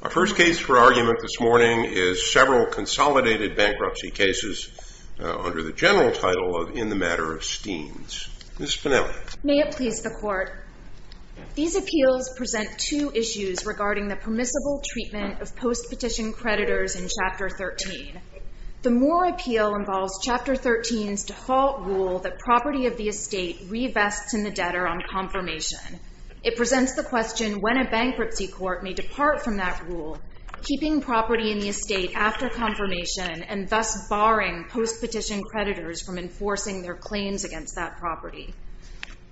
Our first case for argument this morning is several consolidated bankruptcy cases under the general title of In the Matter of Steams. Ms. Spinelli. May it please the Court. These appeals present two issues regarding the permissible treatment of post-petition creditors in Chapter 13. The Moore appeal involves Chapter 13's default rule that property of the estate revests in the debtor on confirmation. It presents the question when a bankruptcy court may depart from that rule, keeping property in the estate after confirmation, and thus barring post-petition creditors from enforcing their claims against that property.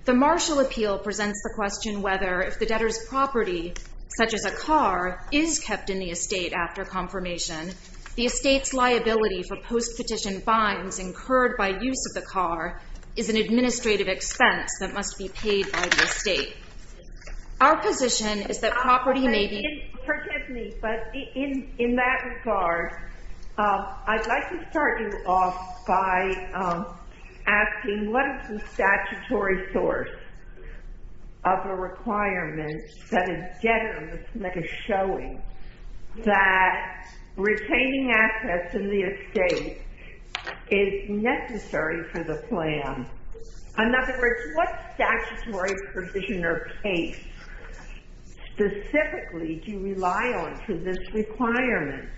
The Marshall appeal presents the question whether, if the debtor's property, such as a car, is kept in the estate after confirmation, the estate's liability for post-petition fines incurred by use of the car is an administrative expense that must be paid by the estate. Our position is that property may be— Excuse me, but in that regard, I'd like to start you off by asking, what is the statutory source of a requirement that a debtor must make a showing that retaining assets in the estate is necessary for the plan? In other words, what statutory provision or case specifically do you rely on for this requirement?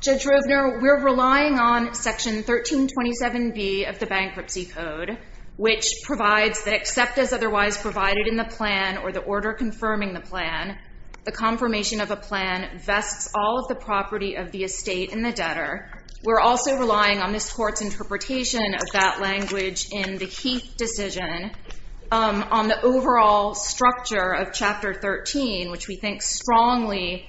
Judge Rovner, we're relying on Section 1327B of the Bankruptcy Code, which provides that except as otherwise provided in the plan or the order confirming the plan, the confirmation of a plan vests all of the property of the estate in the debtor. We're also relying on this Court's interpretation of that language in the Heath decision on the overall structure of Chapter 13, which we think strongly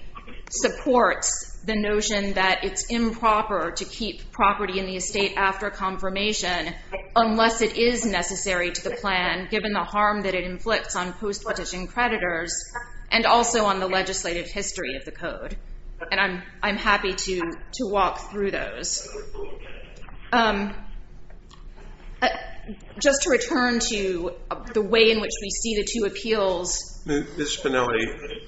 supports the notion that it's improper to keep property in the estate after confirmation unless it is necessary to the plan, given the harm that it inflicts on post-petition creditors and also on the legislative history of the Code. And I'm happy to walk through those. Just to return to the way in which we see the two appeals... Ms. Spinelli,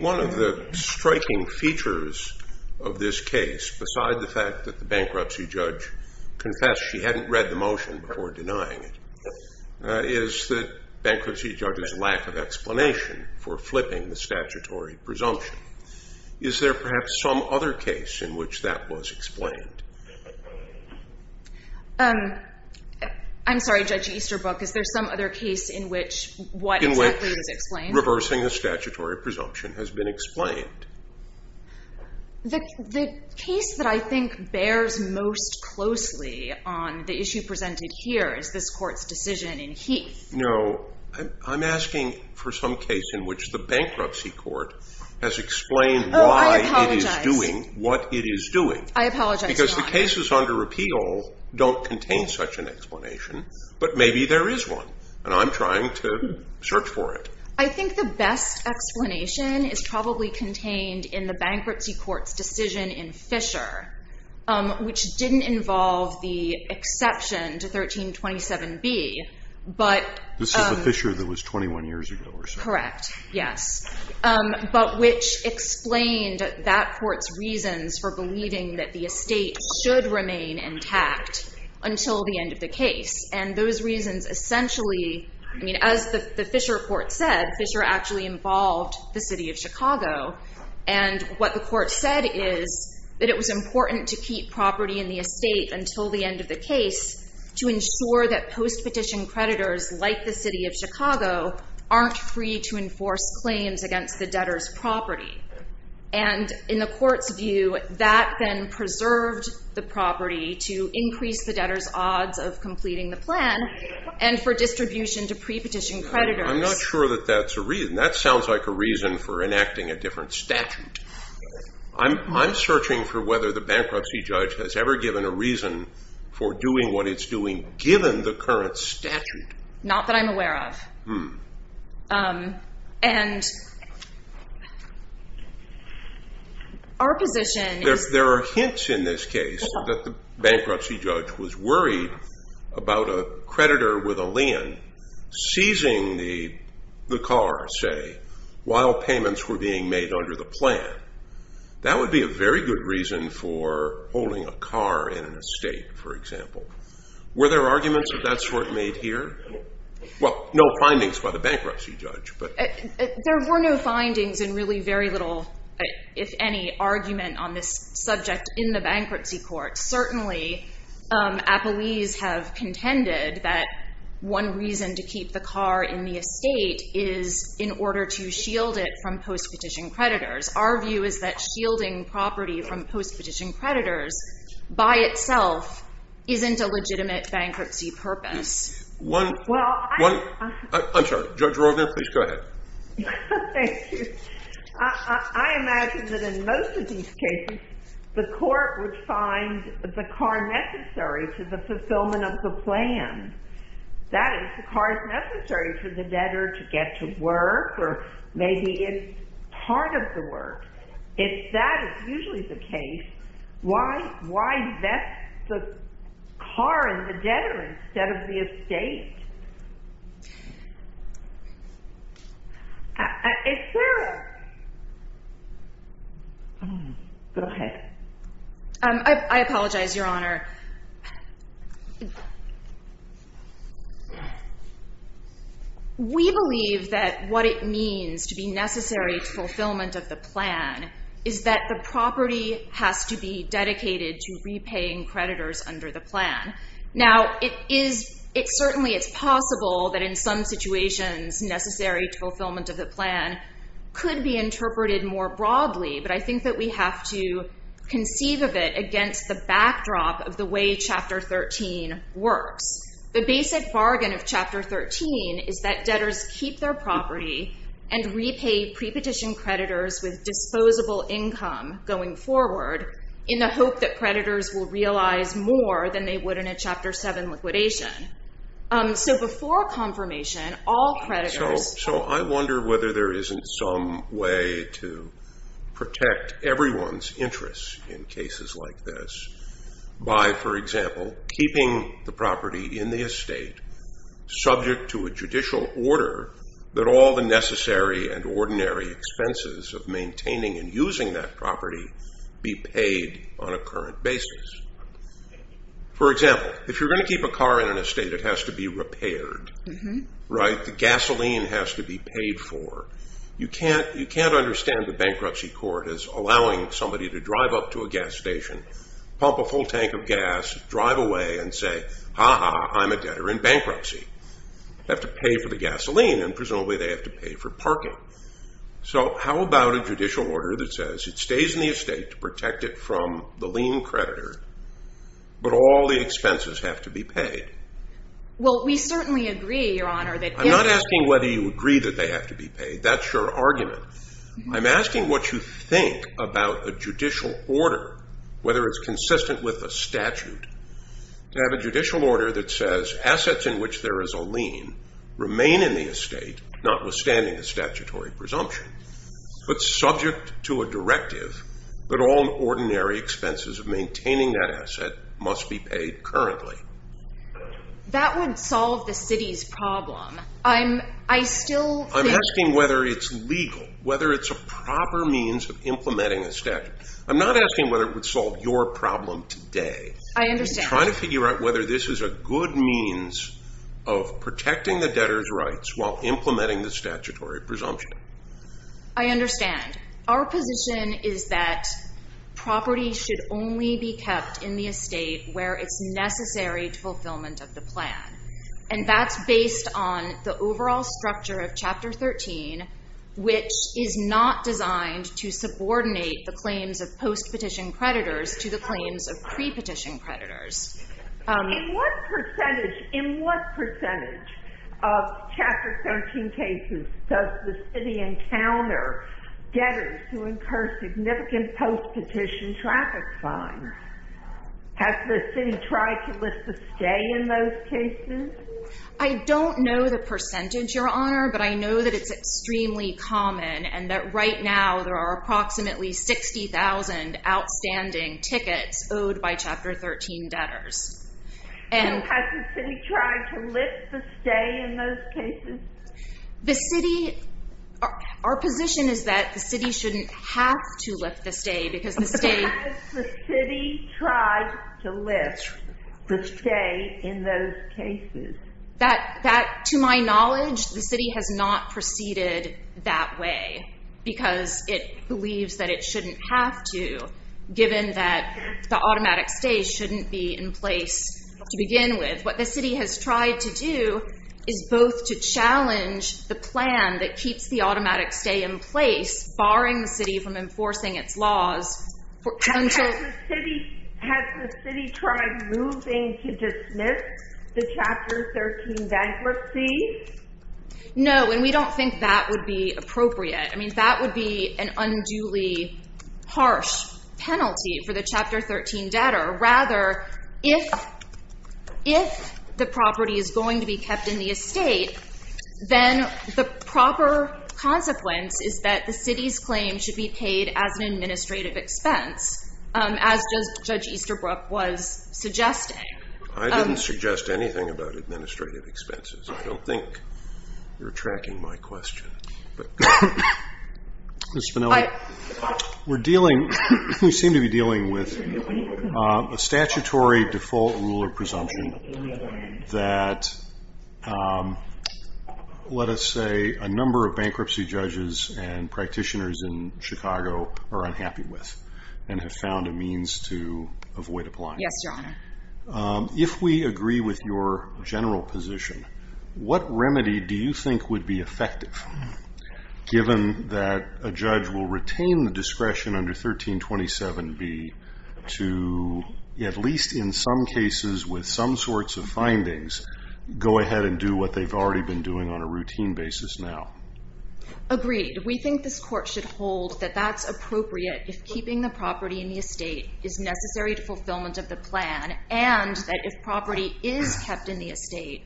one of the striking features of this case, beside the fact that the bankruptcy judge confessed she hadn't read the motion before denying it, is the bankruptcy judge's lack of explanation for flipping the statutory presumption. Is there perhaps some other case in which that was explained? I'm sorry, Judge Easterbrook, is there some other case in which what exactly was explained? In which reversing the statutory presumption has been explained. The case that I think bears most closely on the issue presented here is this Court's decision in Heath. No, I'm asking for some case in which the bankruptcy court has explained why it is doing what it is doing. I apologize, Your Honor. Because the cases under appeal don't contain such an explanation. But maybe there is one, and I'm trying to search for it. I think the best explanation is probably contained in the bankruptcy court's decision in Fisher, which didn't involve the exception to 1327B, but... This is the Fisher that was 21 years ago or so. Correct, yes. But which explained that court's reasons for believing that the estate should remain intact until the end of the case. And those reasons essentially... I mean, as the Fisher court said, Fisher actually involved the city of Chicago. And what the court said is that it was important to keep property in the estate until the end of the case to ensure that post-petition creditors, like the city of Chicago, aren't free to enforce claims against the debtor's property. And in the court's view, that then preserved the property to increase the debtor's odds of completing the plan and for distribution to pre-petition creditors. I'm not sure that that's a reason. That sounds like a reason for enacting a different statute. I'm searching for whether the bankruptcy judge has ever given a reason for doing what it's doing, given the current statute. Not that I'm aware of. And our position is... There are hints in this case that the bankruptcy judge was worried about a creditor with a lien seizing the car, say, while payments were being made under the plan. That would be a very good reason for holding a car in an estate, for example. Were there arguments of that sort made here? Well, no findings by the bankruptcy judge, but... There were no findings and really very little, if any, argument on this subject in the bankruptcy court. Certainly, appellees have contended that one reason to keep the car in the estate is in order to shield it from post-petition creditors. Our view is that shielding property from post-petition creditors, by itself, isn't a legitimate bankruptcy purpose. I'm sorry. Judge Rorvan, please go ahead. Thank you. I imagine that in most of these cases, the court would find the car necessary for the fulfillment of the plan. That is, the car is necessary for the debtor to get to work, or maybe it's part of the work. If that is usually the case, why vest the car in the debtor instead of the estate? Is there a... Go ahead. I apologize, Your Honor. We believe that what it means to be necessary to fulfillment of the plan is that the property has to be dedicated to repaying creditors under the plan. Now, it certainly is possible that in some situations, necessary to fulfillment of the plan could be interpreted more broadly, but I think that we have to conceive of it against the backdrop of the way Chapter 13 works. The basic bargain of Chapter 13 is that debtors keep their property and repay pre-petition creditors with disposable income going forward in the hope that creditors will realize more than they would in a Chapter 7 liquidation. So before confirmation, all creditors... So I wonder whether there isn't some way to protect everyone's interests in cases like this by, for example, keeping the property in the estate subject to a judicial order that all the necessary and ordinary expenses of maintaining and using that property be paid on a current basis. For example, if you're going to keep a car in an estate, it has to be repaired, right? The gasoline has to be paid for. You can't understand the bankruptcy court as allowing somebody to drive up to a gas station, pump a full tank of gas, drive away and say, I'm a debtor in bankruptcy. I have to pay for the gasoline, and presumably they have to pay for parking. So how about a judicial order that says it stays in the estate to protect it from the lien creditor, but all the expenses have to be paid? Well, we certainly agree, Your Honor, that... I'm not asking whether you agree that they have to be paid. That's your argument. I'm asking what you think about a judicial order, whether it's consistent with a statute. To have a judicial order that says assets in which there is a lien remain in the estate, notwithstanding a statutory presumption, but subject to a directive that all ordinary expenses of maintaining that asset must be paid currently. That would solve the city's problem. I'm... I still think... I'm asking whether it's legal, whether it's a proper means of implementing a statute. I'm not asking whether it would solve your problem today. I understand. I'm trying to figure out whether this is a good means of protecting the debtor's rights while implementing the statutory presumption. I understand. Our position is that property should only be kept in the estate where it's necessary to fulfillment of the plan. And that's based on the overall structure of Chapter 13, which is not designed to subordinate the claims of post-petition creditors to the claims of pre-petition creditors. In what percentage... in what percentage of Chapter 13 cases does the city encounter debtors who incur significant post-petition traffic fines? Has the city tried to list a stay in those cases? I don't know the percentage, Your Honor, but I know that it's extremely common and that right now there are approximately 60,000 outstanding tickets owed by Chapter 13 debtors. So has the city tried to list a stay in those cases? The city... our position is that the city shouldn't have to list a stay because the state... But has the city tried to list a stay in those cases? That, to my knowledge, the city has not proceeded that way because it believes that it shouldn't have to given that the automatic stay shouldn't be in place to begin with. What the city has tried to do is both to challenge the plan that keeps the automatic stay in place, barring the city from enforcing its laws... Has the city tried moving to dismiss the Chapter 13 bankruptcy? No, and we don't think that would be appropriate. I mean, that would be an unduly harsh penalty for the Chapter 13 debtor. Rather, if the property is going to be kept in the estate, then the proper consequence is that the city's claim should be paid as an administrative expense, as Judge Easterbrook was suggesting. I didn't suggest anything about administrative expenses. I don't think you're tracking my question. Ms. Spinelli, we're dealing... we seem to be dealing with a statutory default rule of presumption that, let us say, a number of bankruptcy judges and practitioners in Chicago are unhappy with and have found a means to avoid applying. Yes, Your Honor. If we agree with your general position, what remedy do you think would be effective given that a judge will retain the discretion under 1327b to, at least in some cases with some sorts of findings, go ahead and do what they've already been doing on a routine basis now? Agreed. We think this Court should hold that that's appropriate if keeping the property in the estate is necessary to fulfillment of the plan and that if property is kept in the estate,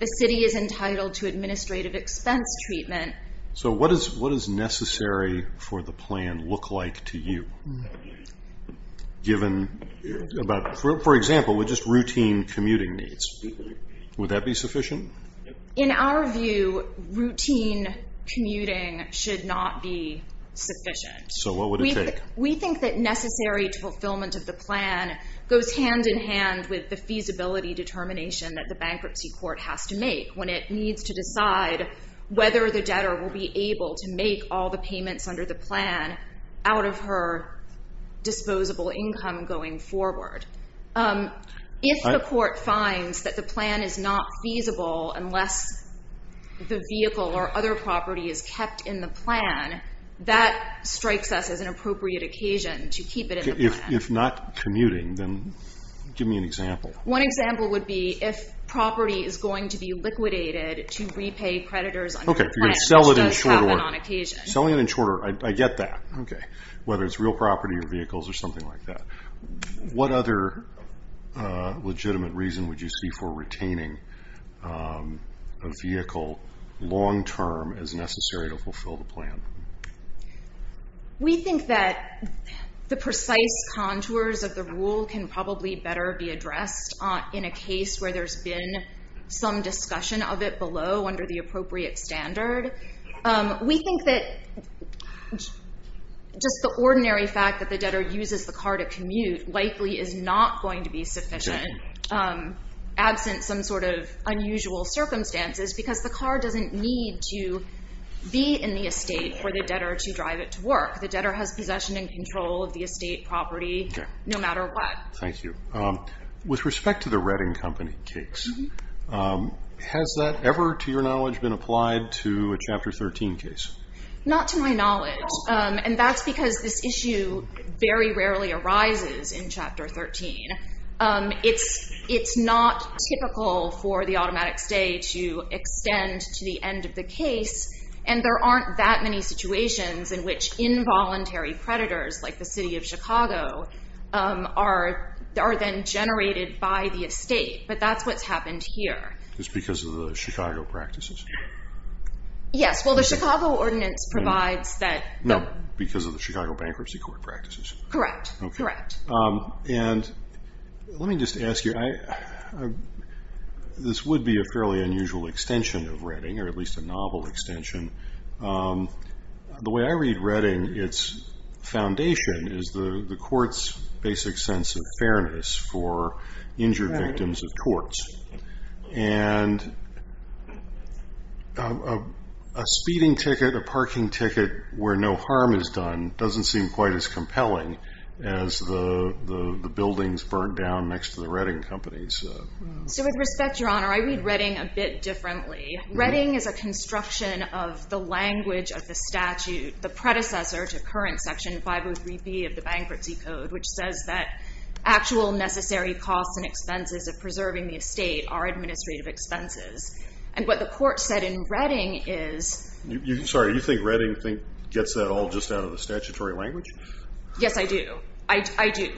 the city is entitled to administrative expense treatment. So what does necessary for the plan look like to you, given about, for example, just routine commuting needs? Would that be sufficient? In our view, routine commuting should not be sufficient. So what would it take? We think that necessary to fulfillment of the plan goes hand in hand with the feasibility determination that the bankruptcy court has to make when it needs to decide whether the debtor will be able to make all the payments under the plan out of her disposable income going forward. If the court finds that the plan is not feasible unless the vehicle or other property is kept in the plan, that strikes us as an appropriate occasion to keep it in the plan. If not commuting, then give me an example. One example would be if property is going to be liquidated to repay creditors under the plan, which does happen on occasion. Selling it in short order. I get that. Whether it's real property or vehicles or something like that. What other legitimate reason would you see for retaining a vehicle long term as necessary to fulfill the plan? We think that the precise contours of the rule can probably better be addressed in a case where there's been some discussion of it below under the appropriate standard. We think that just the ordinary fact that the debtor uses the car to commute likely is not going to be sufficient. Absent some sort of unusual circumstances because the car doesn't need to be in the estate for the debtor to drive it to work. The debtor has possession and control of the estate property no matter what. Thank you. With respect to the Redding Company case, has that ever, to your knowledge, been applied to a Chapter 13 case? Not to my knowledge. That's because this issue very rarely arises in Chapter 13. It's not typical for the automatic stay to extend to the end of the case and there aren't that many situations in which involuntary creditors like the City of Chicago are then generated by the estate. But that's what's happened here. It's because of the Chicago practices? Yes. Well, the Chicago Ordinance provides that. No, because of the Chicago Bankruptcy Court practices. Correct. Correct. Let me just ask you, this would be a fairly unusual extension of Redding or at least a novel extension. The way I read Redding, its foundation is the court's basic sense of fairness for injured victims of torts. And a speeding ticket, a parking ticket where no harm is done doesn't seem quite as compelling as the buildings burnt down next to the Redding Company's. So with respect, Your Honor, I read Redding a bit differently. Redding is a construction of the language of the statute, the predecessor to current Section 503B of the Bankruptcy Code, which says that actual necessary costs and expenses of preserving the estate are administrative expenses. And what the court said in Redding is... Sorry, you think Redding gets that all just out of the statutory language? Yes, I do. I do.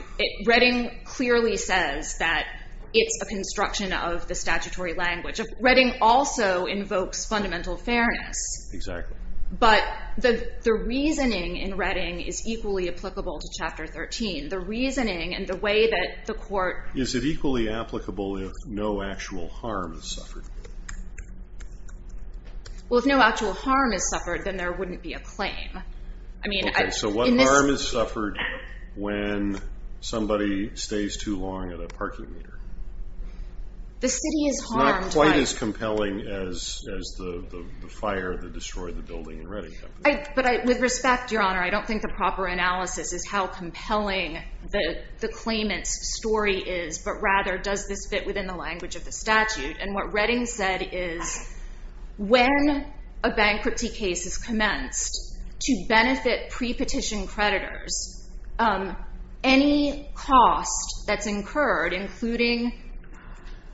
Redding clearly says that it's a construction of the statutory language. Redding also invokes fundamental fairness. Exactly. But the reasoning in Redding is equally applicable to Chapter 13. The reasoning and the way that the court... Is it equally applicable if no actual harm is suffered? Well, if no actual harm is suffered, then there wouldn't be a claim. Okay, so what harm is suffered when somebody stays too long at a parking meter? The city is harmed by... It's not quite as compelling as the fire that destroyed the building in Redding. But with respect, Your Honor, I don't think the proper analysis is how compelling the claimant's story is, but rather does this fit within the language of the statute. And what Redding said is when a bankruptcy case is commenced to benefit pre-petition creditors, any cost that's incurred, including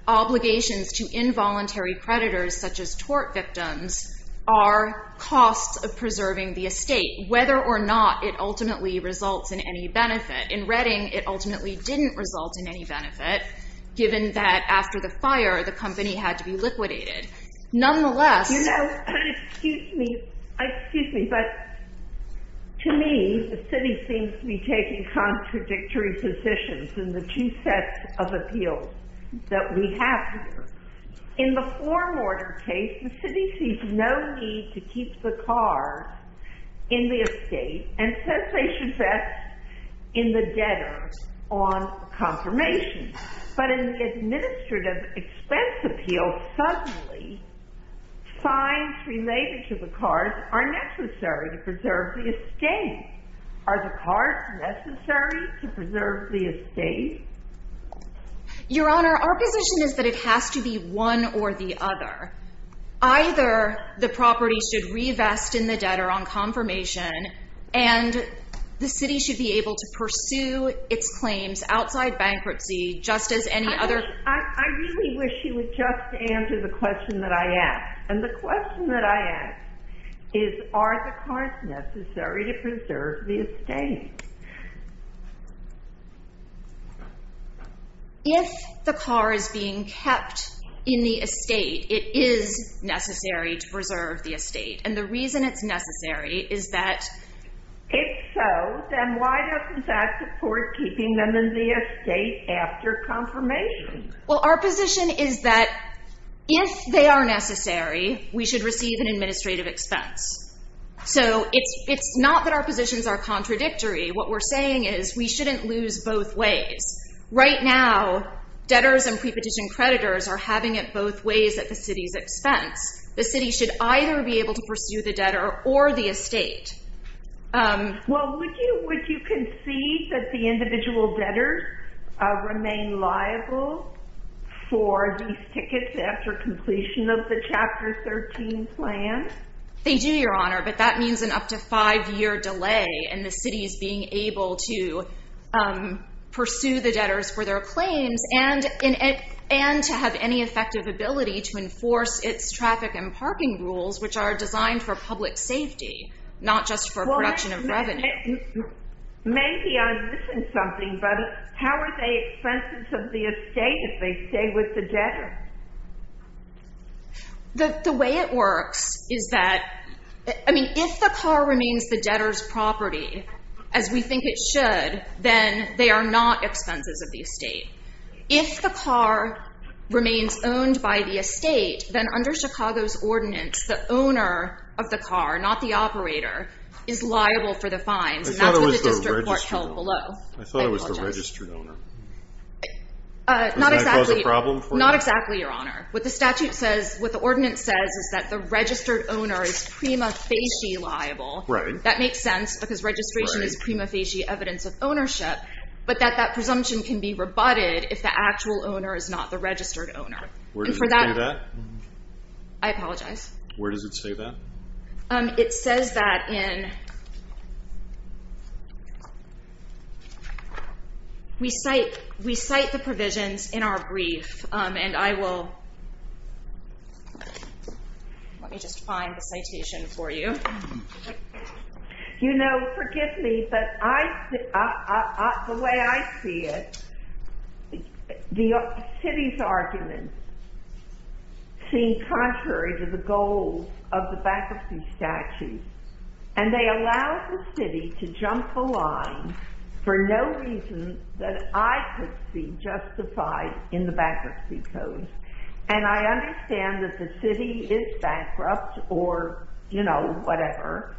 obligations to involuntary creditors such as tort victims, are costs of preserving the estate, whether or not it ultimately results in any benefit. In Redding, it ultimately didn't result in any benefit, given that after the fire, the company had to be liquidated. Nonetheless... Now, excuse me, but to me, the city seems to be taking contradictory positions in the two sets of appeals that we have here. In the form order case, the city sees no need to keep the car in the estate and says they should invest in the debtor on confirmation. But in the administrative expense appeal, suddenly, signs related to the cars are necessary to preserve the estate. Are the cars necessary to preserve the estate? Your Honor, our position is that it has to be one or the other. Either the property should re-invest in the debtor on confirmation and the city should be able to pursue its claims outside bankruptcy, just as any other... I really wish you would just answer the question that I asked. And the question that I asked is, are the cars necessary to preserve the estate? If the car is being kept in the estate, it is necessary to preserve the estate. And the reason it's necessary is that... If so, then why doesn't that support keeping them in the estate after confirmation? Well, our position is that if they are necessary, we should receive an administrative expense. So it's not that our positions are contradictory. What we're saying is we shouldn't lose both ways. Right now, debtors and prepetition creditors are having it both ways at the city's expense. The city should either be able to pursue the debtor or the estate. Well, would you concede that the individual debtors remain liable for these tickets after completion of the Chapter 13 plan? They do, Your Honor, but that means an up to five-year delay in the city's being able to pursue the debtors for their claims and to have any effective ability to enforce its traffic and parking rules, which are designed for public safety, not just for production of revenue. Maybe I'm missing something, but how are they expenses of the estate if they stay with the debtor? The way it works is that... I mean, if the car remains the debtor's property, as we think it should, then they are not expenses of the estate. If the car remains owned by the estate, then under Chicago's ordinance, the owner of the car, not the operator, is liable for the fines, and that's what the district court held below. I thought it was the registered owner. Does that cause a problem for you? Not exactly, Your Honor. What the statute says, what the ordinance says, is that the registered owner is prima facie liable. Right. That makes sense because registration is prima facie evidence of ownership, but that that presumption can be rebutted if the actual owner is not the registered owner. Where does it say that? I apologize. Where does it say that? It says that in... We cite the provisions in our brief, and I will... Let me just find the citation for you. You know, forgive me, but the way I see it, the city's arguments seem contrary to the goals of the bankruptcy statute, and they allow the city to jump the line for no reason that I could see justified in the bankruptcy code, and I understand that the city is bankrupt or, you know, whatever,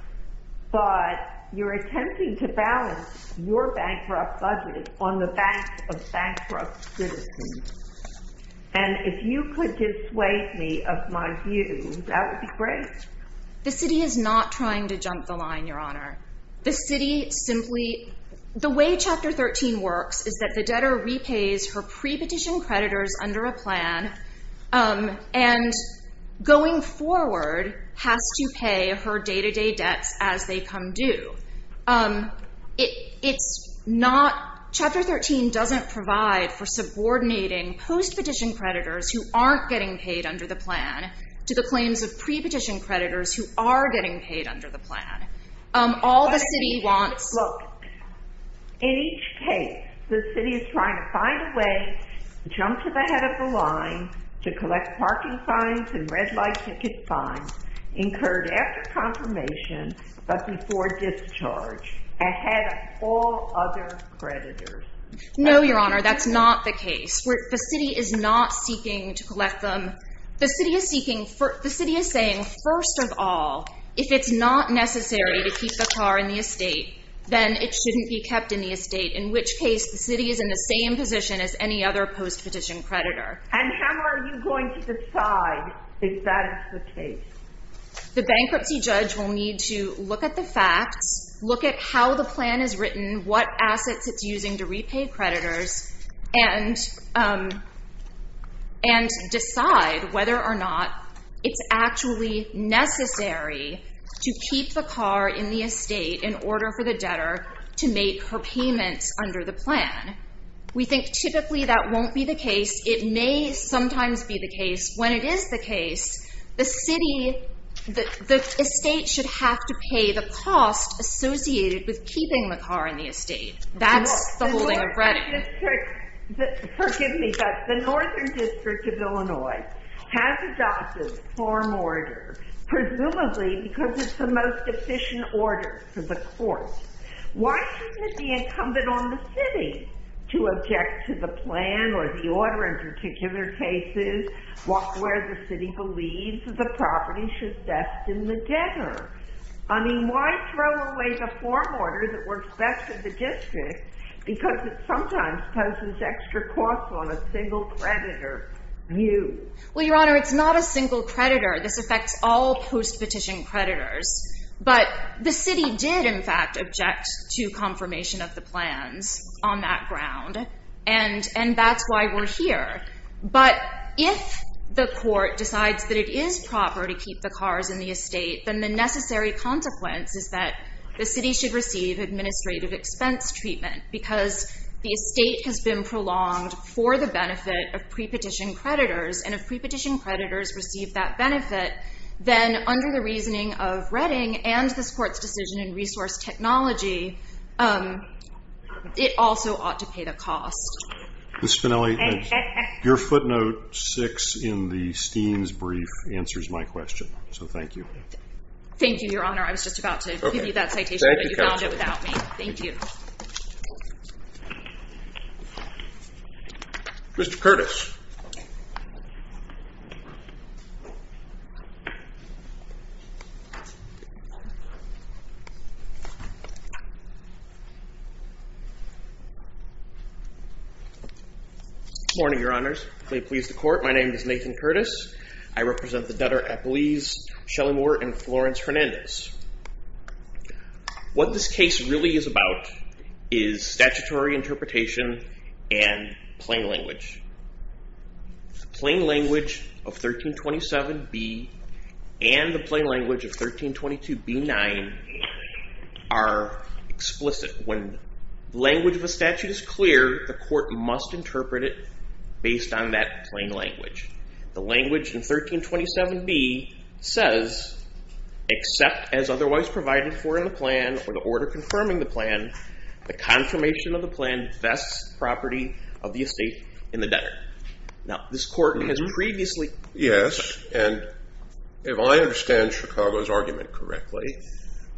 but you're attempting to balance your bankrupt budget on the banks of bankrupt citizens, and if you could dissuade me of my view, that would be great. The city is not trying to jump the line, Your Honor. The city simply... The way Chapter 13 works is that the debtor repays her pre-petition creditors under a plan and going forward has to pay her day-to-day debts as they come due. It's not... Chapter 13 doesn't provide for subordinating post-petition creditors who aren't getting paid under the plan to the claims of pre-petition creditors who are getting paid under the plan. All the city wants... Look, in each case, the city is trying to find a way to jump to the head of the line to collect parking fines and red-light ticket fines incurred after confirmation but before discharge ahead of all other creditors. No, Your Honor, that's not the case. The city is not seeking to collect them. The city is seeking... The city is saying, first of all, if it's not necessary to keep the car in the estate, then it shouldn't be kept in the estate, in which case the city is in the same position as any other post-petition creditor. And how are you going to decide if that is the case? The bankruptcy judge will need to look at the facts, look at how the plan is written, what assets it's using to repay creditors, and decide whether or not it's actually necessary to keep the car in the estate in order for the debtor to make her payments under the plan. We think typically that won't be the case. It may sometimes be the case. When it is the case, the estate should have to pay the cost associated with keeping the car in the estate. That's the holding of credit. Forgive me, but the Northern District of Illinois has adopted a form order, presumably because it's the most efficient order for the court. Why shouldn't it be incumbent on the city to object to the plan or the order in particular cases where the city believes the property should best in the debtor? I mean, why throw away the form order that works best for the district because it sometimes poses extra costs on a single creditor view? Well, Your Honor, it's not a single creditor. This affects all post-petition creditors. But the city did, in fact, object to confirmation of the plans on that ground, and that's why we're here. But if the court decides that it is proper to keep the cars in the estate, then the necessary consequence is that the city should receive administrative expense treatment because the estate has been prolonged for the benefit of pre-petition creditors, and if pre-petition creditors receive that benefit, then under the reasoning of Redding and this court's decision in resource technology, it also ought to pay the cost. Ms. Spinelli, your footnote six in the Steens brief answers my question, so thank you. Thank you, Your Honor. I was just about to give you that citation, but you found it without me. Thank you. Mr. Curtis. Good morning, Your Honors. May it please the court, my name is Nathan Curtis. I represent the debtor at Belize, Shelley Moore and Florence Hernandez. What this case really is about is statutory interpretation and plain language. The plain language of 1327B and the plain language of 1322B-9 are explicit. When the language of a statute is clear, the court must interpret it based on that plain language. The language in 1327B says, except as otherwise provided for in the plan or the order confirming the plan, the confirmation of the plan vests the property of the estate in the debtor. Now, this court has previously- Yes, and if I understand Chicago's argument correctly,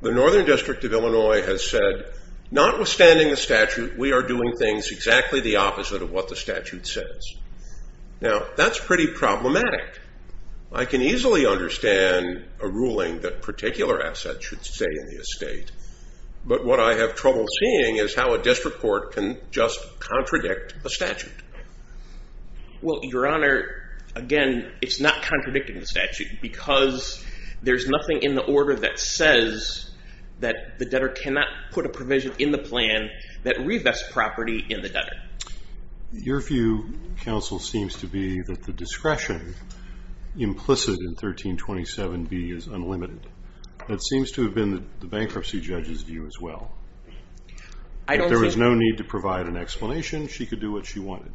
the Northern District of Illinois has said, notwithstanding the statute, we are doing things exactly the opposite of what the statute says. Now, that's pretty problematic. I can easily understand a ruling that particular assets should stay in the estate, but what I have trouble seeing is how a district court can just contradict the statute. Well, Your Honor, again, it's not contradicting the statute because there's nothing in the order that says that the debtor cannot put a provision in the plan that revests property in the debtor. Your view, counsel, seems to be that the discretion implicit in 1327B is unlimited. That seems to have been the bankruptcy judge's view as well. If there was no need to provide an explanation, she could do what she wanted.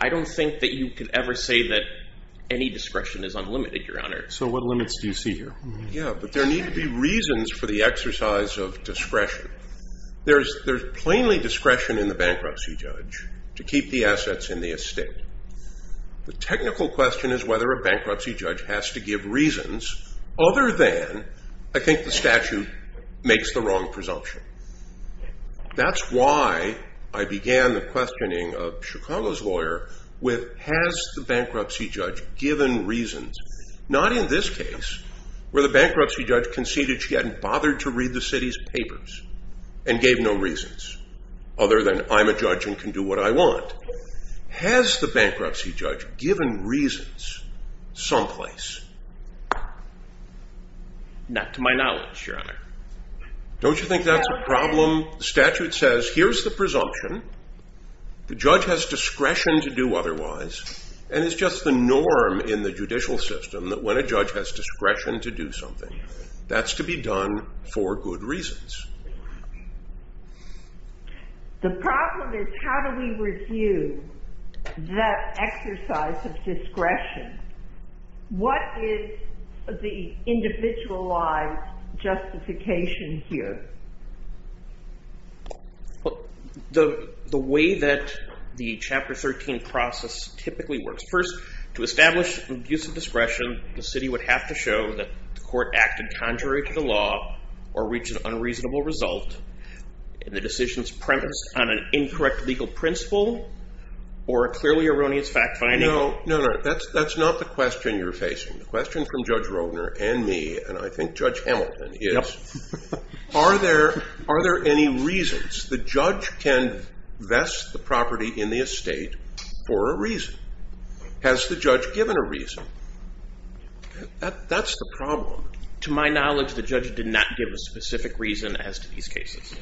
I don't think that you could ever say that any discretion is unlimited, Your Honor. So what limits do you see here? Yeah, but there need to be reasons for the exercise of discretion. There's plainly discretion in the bankruptcy judge to keep the assets in the estate. The technical question is whether a bankruptcy judge has to give reasons other than I think the statute makes the wrong presumption. That's why I began the questioning of Chicago's lawyer with, has the bankruptcy judge given reasons, not in this case, where the bankruptcy judge conceded she hadn't bothered to read the city's papers and gave no reasons other than I'm a judge and can do what I want. Has the bankruptcy judge given reasons someplace? Not to my knowledge, Your Honor. Don't you think that's a problem? The statute says here's the presumption. The judge has discretion to do otherwise, and it's just the norm in the judicial system that when a judge has discretion to do something, that's to be done for good reasons. The problem is how do we review that exercise of discretion? What is the individualized justification here? The way that the Chapter 13 process typically works. First, to establish an abuse of discretion, the city would have to show that the court acted contrary to the law or reached an unreasonable result in the decision's premise on an incorrect legal principle or a clearly erroneous fact finding. No, no, no. That's not the question you're facing. The question from Judge Roedner and me, and I think Judge Hamilton is, are there any reasons? The judge can vest the property in the estate for a reason. Has the judge given a reason? That's the problem. To my knowledge, the judge did not give a specific reason as to these cases.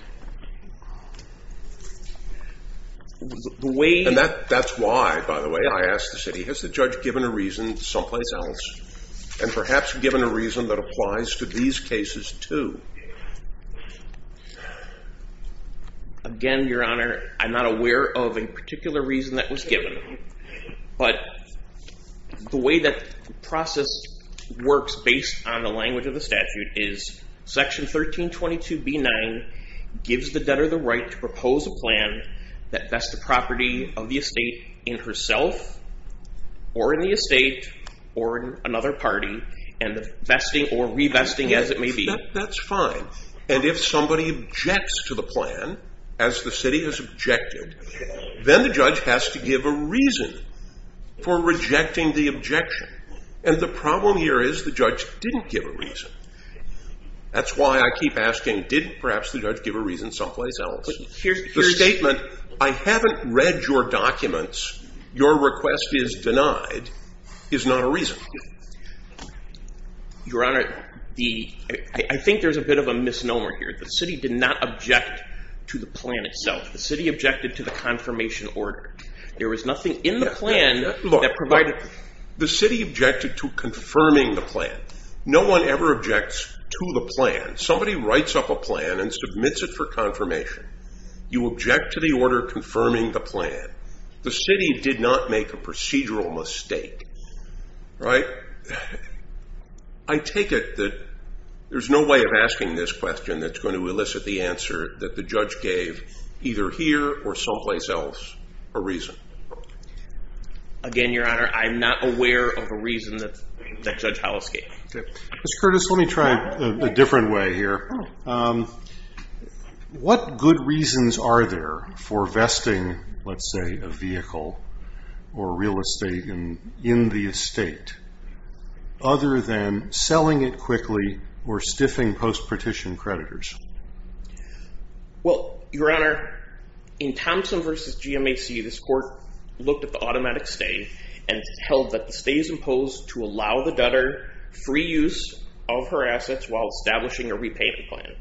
And that's why, by the way, I asked the city, has the judge given a reason someplace else and perhaps given a reason that applies to these cases too? Again, Your Honor, I'm not aware of a particular reason that was given. But the way that the process works based on the language of the statute is Section 1322B9 gives the debtor the right to propose a plan that vests the property of the estate in herself or in the estate or in another party and vesting or revesting as it may be. That's fine. And if somebody objects to the plan, as the city has objected, then the judge has to give a reason for rejecting the objection. And the problem here is the judge didn't give a reason. That's why I keep asking, did perhaps the judge give a reason someplace else? The statement, I haven't read your documents, your request is denied, is not a reason. Your Honor, I think there's a bit of a misnomer here. The city did not object to the plan itself. The city objected to the confirmation order. There was nothing in the plan that provided... The city objected to confirming the plan. No one ever objects to the plan. Somebody writes up a plan and submits it for confirmation. You object to the order confirming the plan. The city did not make a procedural mistake. Right? I take it that there's no way of asking this question that's going to elicit the answer that the judge gave either here or someplace else a reason. Again, Your Honor, I'm not aware of a reason that Judge Hollis gave. Mr. Curtis, let me try a different way here. What good reasons are there for vesting, let's say, a vehicle or real estate in the estate other than selling it quickly or stiffing post-petition creditors? Well, Your Honor, in Thompson v. GMAC, this court looked at the automatic stay and held that the stay is imposed to allow the debtor free use of her assets while establishing a repayment plan.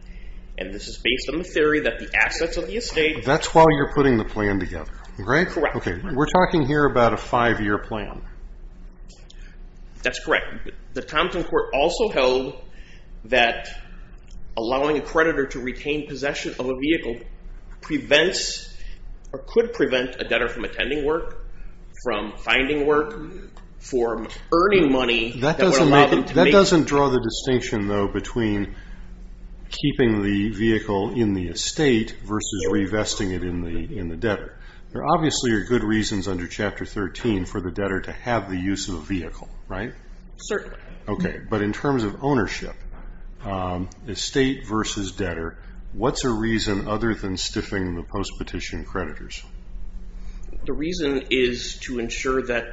And this is based on the theory that the assets of the estate... That's why you're putting the plan together, right? Correct. We're talking here about a five-year plan. That's correct. The Thompson court also held that allowing a creditor to retain possession of a vehicle prevents or could prevent a debtor from attending work, from finding work, from earning money... That doesn't draw the distinction, though, between keeping the vehicle in the estate versus revesting it in the debtor. There obviously are good reasons under Chapter 13 for the debtor to have the use of a vehicle, right? Certainly. Okay, but in terms of ownership, estate versus debtor, what's a reason other than stiffing the post-petition creditors? The reason is to ensure that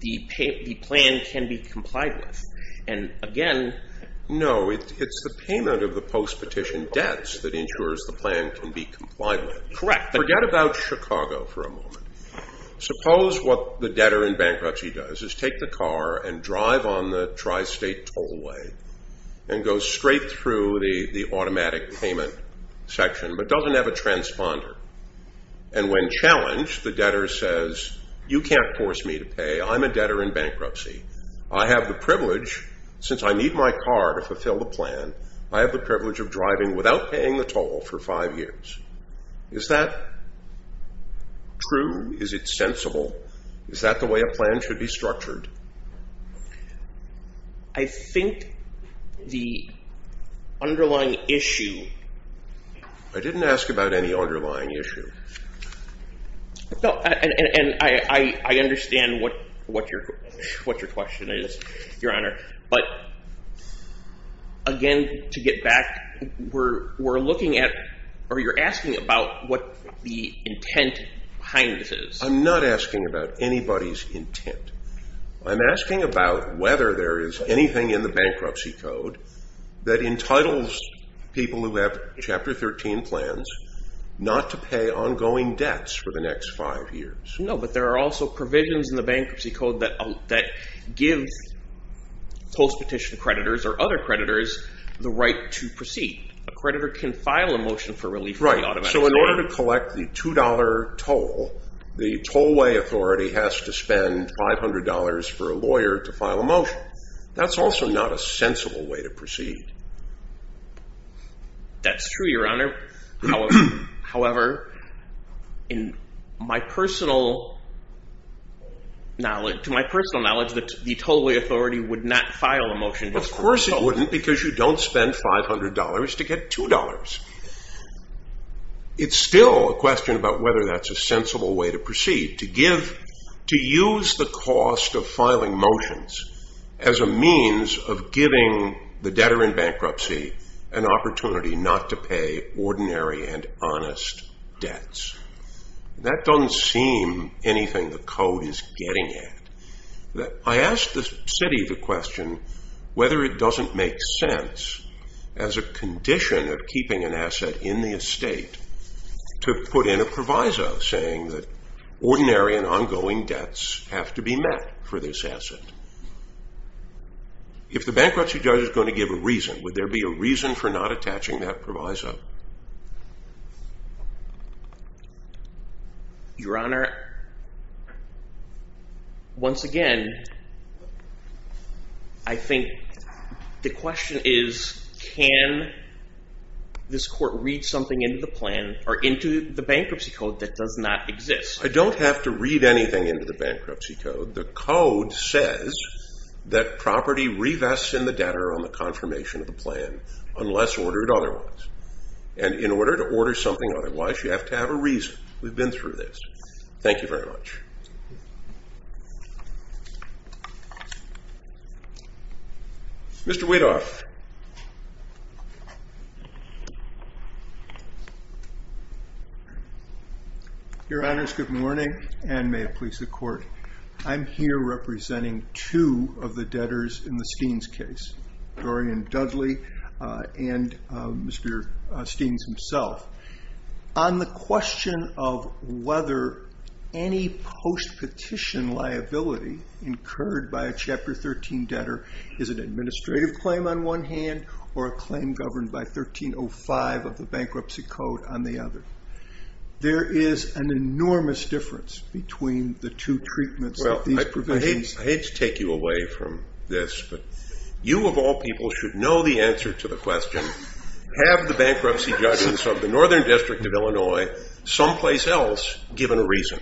the plan can be complied with. And again... No, it's the payment of the post-petition debts that ensures the plan can be complied with. Correct. Forget about Chicago for a moment. Suppose what the debtor in bankruptcy does is take the car and drive on the tri-state tollway and go straight through the automatic payment section but doesn't have a transponder. And when challenged, the debtor says, You can't force me to pay. I'm a debtor in bankruptcy. I have the privilege, since I need my car to fulfill the plan, I have the privilege of driving without paying the toll for five years. Is that true? Is it sensible? Is that the way a plan should be structured? I think the underlying issue... I didn't ask about any underlying issue. And I understand what your question is, Your Honor. But again, to get back, we're looking at... or you're asking about what the intent behind this is. I'm not asking about anybody's intent. I'm asking about whether there is anything in the Bankruptcy Code that entitles people who have Chapter 13 plans not to pay ongoing debts for the next five years. No, but there are also provisions in the Bankruptcy Code that give post-petition creditors or other creditors the right to proceed. A creditor can file a motion for relief... Right. So in order to collect the $2 toll, the tollway authority has to spend $500 for a lawyer to file a motion. That's also not a sensible way to proceed. That's true, Your Honor. However, to my personal knowledge, the tollway authority would not file a motion... Of course it wouldn't, because you don't spend $500 to get $2. It's still a question about whether that's a sensible way to proceed. to use the cost of filing motions as a means of giving the debtor in bankruptcy an opportunity not to pay ordinary and honest debts. That doesn't seem anything the Code is getting at. I asked the city the question whether it doesn't make sense as a condition of keeping an asset in the estate to put in a proviso saying that ordinary and ongoing debts have to be met for this asset. If the bankruptcy judge is going to give a reason, would there be a reason for not attaching that proviso? Your Honor, once again, I think the question is can this court read something into the bankruptcy code that does not exist? I don't have to read anything into the bankruptcy code. The Code says that property revests in the debtor on the confirmation of the plan unless ordered otherwise. In order to order something otherwise, you have to have a reason. We've been through this. Thank you very much. Mr. Wadoff. Your Honor, it's good morning and may it please the Court. I'm here representing two of the debtors in the Steens case, Dorian Dudley and Mr. Steens himself. On the question of whether any post-petition liability incurred by a Chapter 13 debtor is an administrative claim on one hand or a claim governed by 1305 of the bankruptcy code on the other, there is an enormous difference between the two treatments. I hate to take you away from this, but you of all people should know the answer to the question, have the bankruptcy judges of the Northern District of Illinois someplace else given a reason?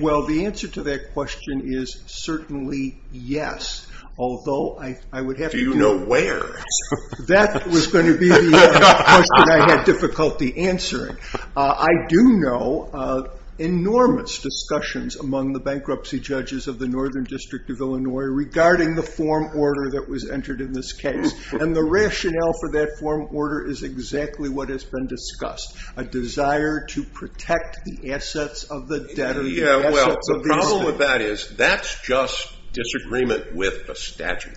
Well, the answer to that question is certainly yes. Do you know where? That was going to be the question I had difficulty answering. I do know of enormous discussions among the bankruptcy judges of the Northern District of Illinois regarding the form order that was entered in this case. And the rationale for that form order is exactly what has been discussed, a desire to protect the assets of the debtor. Yeah, well, the problem with that is that's just disagreement with a statute.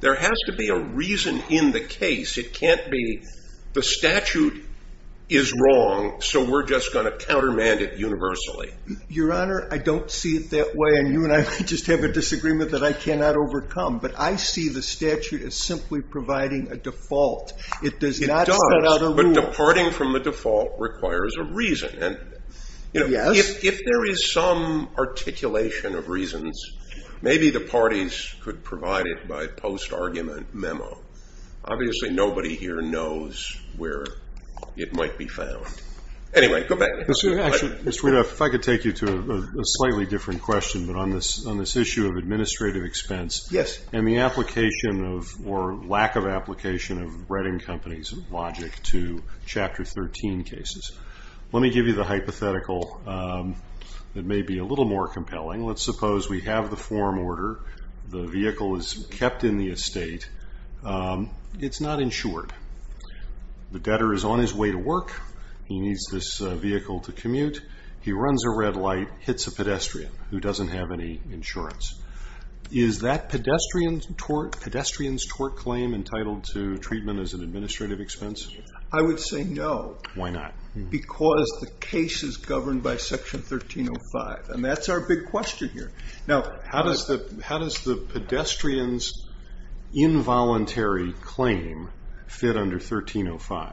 There has to be a reason in the case. It can't be the statute is wrong, so we're just going to countermand it universally. Your Honor, I don't see it that way, and you and I just have a disagreement that I cannot overcome. But I see the statute as simply providing a default. It does not set out a rule. It does, but departing from the default requires a reason. And if there is some articulation of reasons, maybe the parties could provide it by post-argument memo. Obviously nobody here knows where it might be found. Anyway, go back. Actually, Mr. Rudolph, if I could take you to a slightly different question, but on this issue of administrative expense. Yes. And the application of, or lack of application of, Reading Company's logic to Chapter 13 cases. Let me give you the hypothetical that may be a little more compelling. Let's suppose we have the form order. The vehicle is kept in the estate. It's not insured. The debtor is on his way to work. He needs this vehicle to commute. He runs a red light, hits a pedestrian who doesn't have any insurance. Is that pedestrian's tort claim entitled to treatment as an administrative expense? I would say no. Why not? Because the case is governed by Section 1305. And that's our big question here. Now, how does the pedestrian's involuntary claim fit under 1305?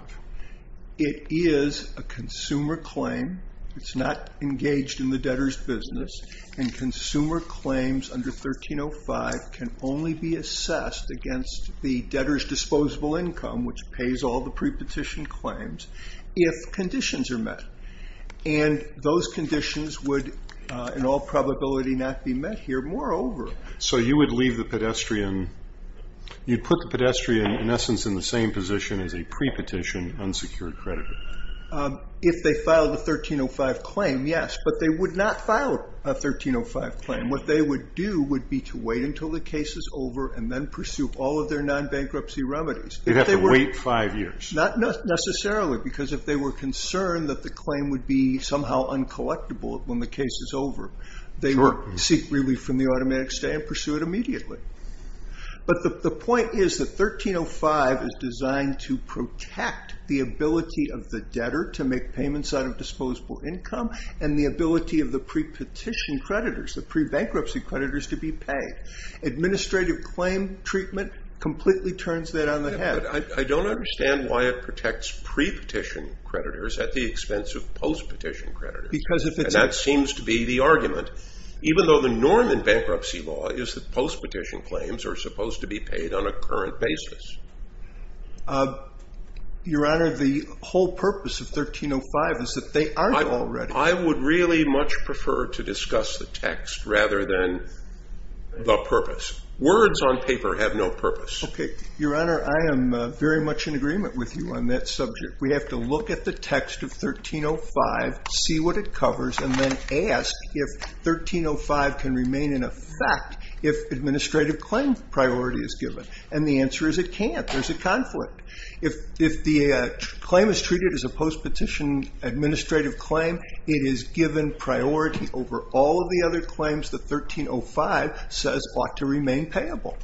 It is a consumer claim. It's not engaged in the debtor's business. And consumer claims under 1305 can only be assessed against the debtor's disposable income, which pays all the prepetition claims, if conditions are met. And those conditions would in all probability not be met here. Moreover. So you would leave the pedestrian, you'd put the pedestrian in essence in the same position as a prepetition unsecured creditor. If they filed a 1305 claim, yes. But they would not file a 1305 claim. What they would do would be to wait until the case is over, and then pursue all of their non-bankruptcy remedies. You'd have to wait five years. Not necessarily. Because if they were concerned that the claim would be somehow uncollectible when the case is over, they would seek relief from the automatic stay and pursue it immediately. But the point is that 1305 is designed to protect the ability of the debtor to make payments out of disposable income, and the ability of the prepetition creditors, the pre-bankruptcy creditors, to be paid. Administrative claim treatment completely turns that on the head. But I don't understand why it protects prepetition creditors at the expense of postpetition creditors. Because if it's And that seems to be the argument. Even though the norm in bankruptcy law is that postpetition claims are supposed to be paid on a current basis. Your Honor, the whole purpose of 1305 is that they aren't already. I would really much prefer to discuss the text rather than the purpose. Words on paper have no purpose. Your Honor, I am very much in agreement with you on that subject. We have to look at the text of 1305, see what it covers, and then ask if 1305 can remain in effect if administrative claim priority is given. And the answer is it can't. There's a conflict. If the claim is treated as a postpetition administrative claim, it is given priority over all of the other claims that 1305 says ought to remain payable.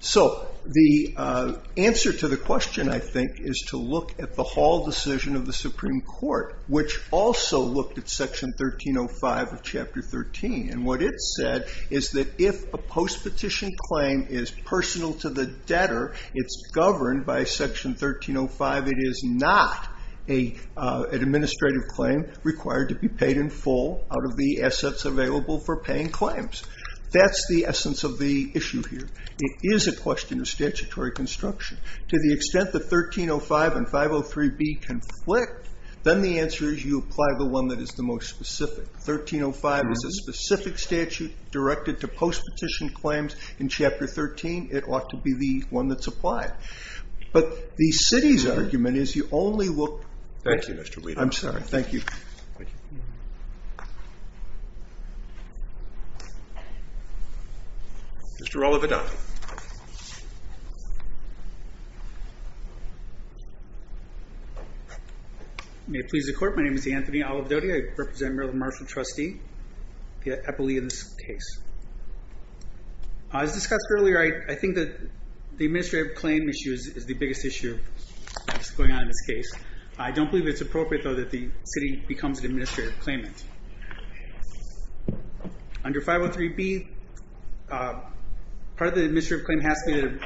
So the answer to the question, I think, is to look at the Hall decision of the Supreme Court, which also looked at Section 1305 of Chapter 13. And what it said is that if a postpetition claim is personal to the debtor, it's governed by Section 1305. It is not an administrative claim required to be paid in full out of the assets available for paying claims. That's the essence of the issue here. It is a question of statutory construction. To the extent that 1305 and 503B conflict, then the answer is you apply the one that is the most specific. 1305 is a specific statute directed to postpetition claims. In Chapter 13, it ought to be the one that's applied. But the city's argument is you only look... Thank you, Mr. Weaver. I'm sorry. Thank you. Mr. Olivadotti. May it please the Court. My name is Anthony Olivadotti. I represent Merrill Marshall Trustee. I believe in this case. As discussed earlier, I think that the administrative claim issue is the biggest issue that's going on in this case. I don't believe it's appropriate, though, that the city becomes an administrative claimant. Under 503B, part of the administrative claim has to be that it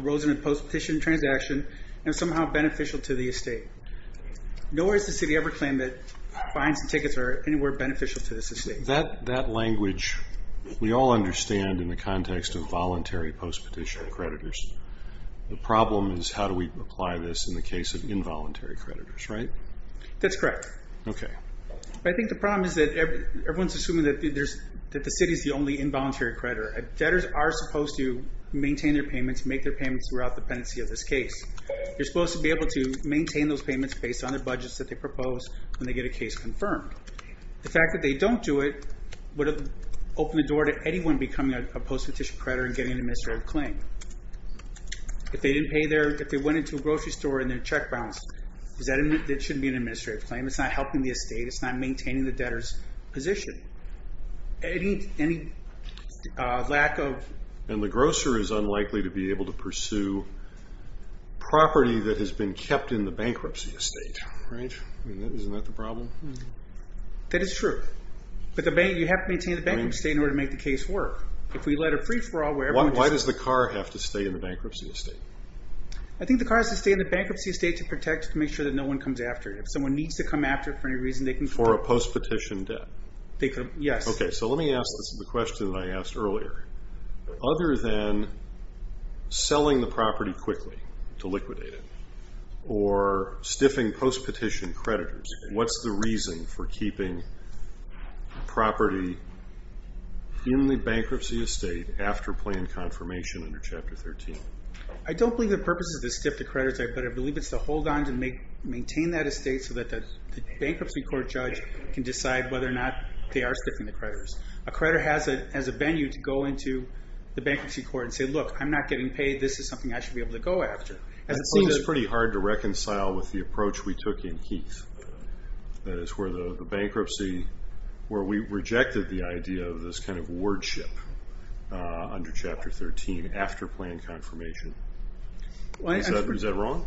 arose in a postpetition transaction and is somehow beneficial to the estate. Nor has the city ever claimed that fines and tickets are anywhere beneficial to the estate. That language we all understand in the context of voluntary postpetition creditors. The problem is how do we apply this in the case of involuntary creditors, right? That's correct. Okay. I think the problem is that everyone's assuming that the city's the only involuntary creditor. Debtors are supposed to maintain their payments, make their payments throughout the pendency of this case. They're supposed to be able to maintain those payments based on the budgets that they propose when they get a case confirmed. The fact that they don't do it would open the door to anyone becoming a postpetition creditor and getting an administrative claim. If they went into a grocery store and their check bounced, it shouldn't be an administrative claim. It's not helping the estate. It's not maintaining the debtor's position. Any lack of... And the grocer is unlikely to be able to pursue property that has been kept in the bankruptcy estate, right? Isn't that the problem? That is true. But you have to maintain the bankruptcy estate in order to make the case work. If we let a free-for-all... Why does the car have to stay in the bankruptcy estate? I think the car has to stay in the bankruptcy estate to protect, to make sure that no one comes after it. If someone needs to come after it for any reason, they can... For a postpetition debt. Yes. Okay, so let me ask the question that I asked earlier. Other than selling the property quickly to liquidate it or stiffing postpetition creditors, what's the reason for keeping property in the bankruptcy estate after planned confirmation under Chapter 13? I don't believe the purpose is to stiff the creditors. I believe it's to hold on to maintain that estate so that the bankruptcy court judge can decide whether or not they are stiffing the creditors. A creditor has a venue to go into the bankruptcy court and say, look, I'm not getting paid. This is something I should be able to go after. It's pretty hard to reconcile with the approach we took in Heath. That is where the bankruptcy, where we rejected the idea of this kind of wardship under Chapter 13 after planned confirmation. Is that wrong?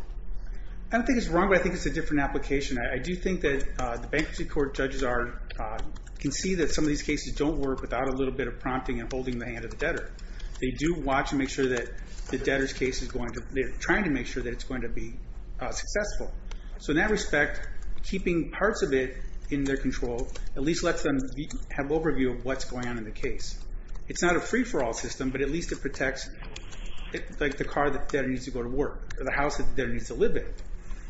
I don't think it's wrong, but I think it's a different application. I do think that the bankruptcy court judges can see that some of these cases don't work without a little bit of prompting and holding the hand of the debtor. They do watch and make sure that the debtor's case is going to... They're trying to make sure that it's going to be successful. So in that respect, keeping parts of it in their control at least lets them have overview of what's going on in the case. It's not a free-for-all system, but at least it protects the car the debtor needs to go to work or the house the debtor needs to live in.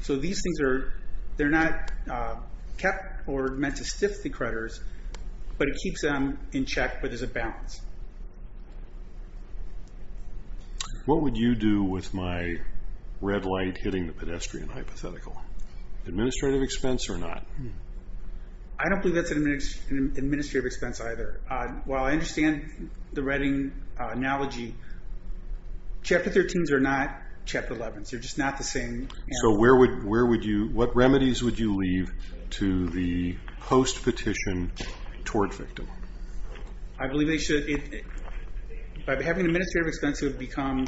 So these things are not kept or meant to stiff the creditors, but it keeps them in check, but there's a balance. What would you do with my red light hitting the pedestrian hypothetical? Administrative expense or not? I don't believe that's an administrative expense either. While I understand the Reading analogy, Chapter 13s are not Chapter 11s. They're just not the same. So what remedies would you leave to the post-petition tort victim? I believe they should... By having administrative expense become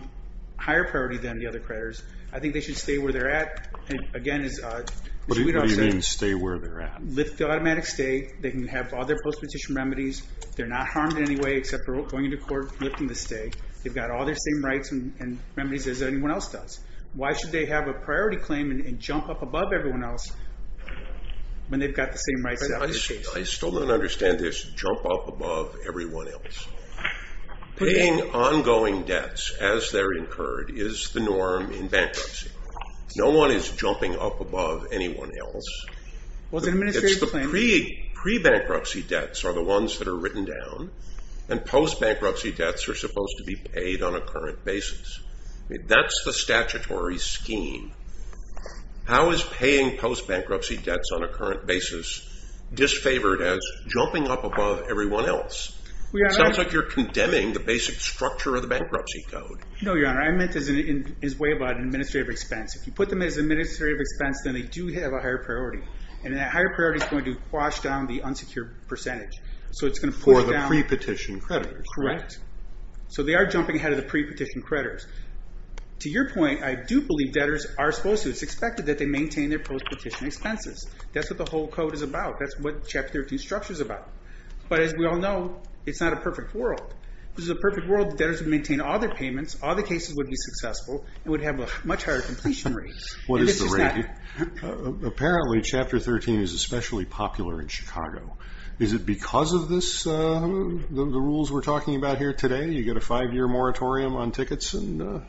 higher priority than the other creditors, I think they should stay where they're at. Again, as you would have said... What do you mean, stay where they're at? Lift the automatic stay. They can have all their post-petition remedies. They're not harmed in any way except for going to court, lifting the stay. They've got all their same rights and remedies as anyone else does. Why should they have a priority claim and jump up above everyone else when they've got the same rights as everyone else? I still don't understand this jump up above everyone else. Paying ongoing debts as they're incurred is the norm in bankruptcy. No one is jumping up above anyone else. Well, it's an administrative claim. Pre-bankruptcy debts are the ones that are written down, and post-bankruptcy debts are supposed to be paid on a current basis. That's the statutory scheme. How is paying post-bankruptcy debts on a current basis disfavored as jumping up above everyone else? It sounds like you're condemning the basic structure of the bankruptcy code. No, Your Honor, I meant as an administrative expense. If you put them as an administrative expense, then they do have a higher priority. And that higher priority is going to wash down the unsecured percentage. For the pre-petition creditors. Correct. So they are jumping ahead of the pre-petition creditors. To your point, I do believe debtors are supposed to. It's expected that they maintain their post-petition expenses. That's what the whole code is about. That's what Chapter 13's structure is about. But as we all know, it's not a perfect world. If this was a perfect world, debtors would maintain all their payments, all their cases would be successful, and would have a much higher completion rate. What is the rate? Apparently, Chapter 13 is especially popular in Chicago. Is it because of the rules we're talking about here today? You get a five-year moratorium on tickets? I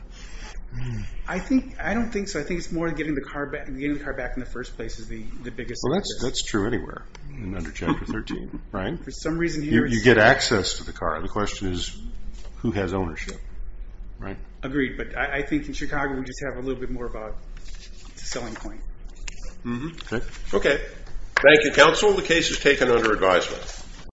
don't think so. I think it's more getting the car back in the first place is the biggest. That's true anywhere under Chapter 13. You get access to the car. The question is who has ownership? Agreed. But I think in Chicago we just have a little bit more of a selling point. Okay. Thank you, counsel. The case is taken under advisement.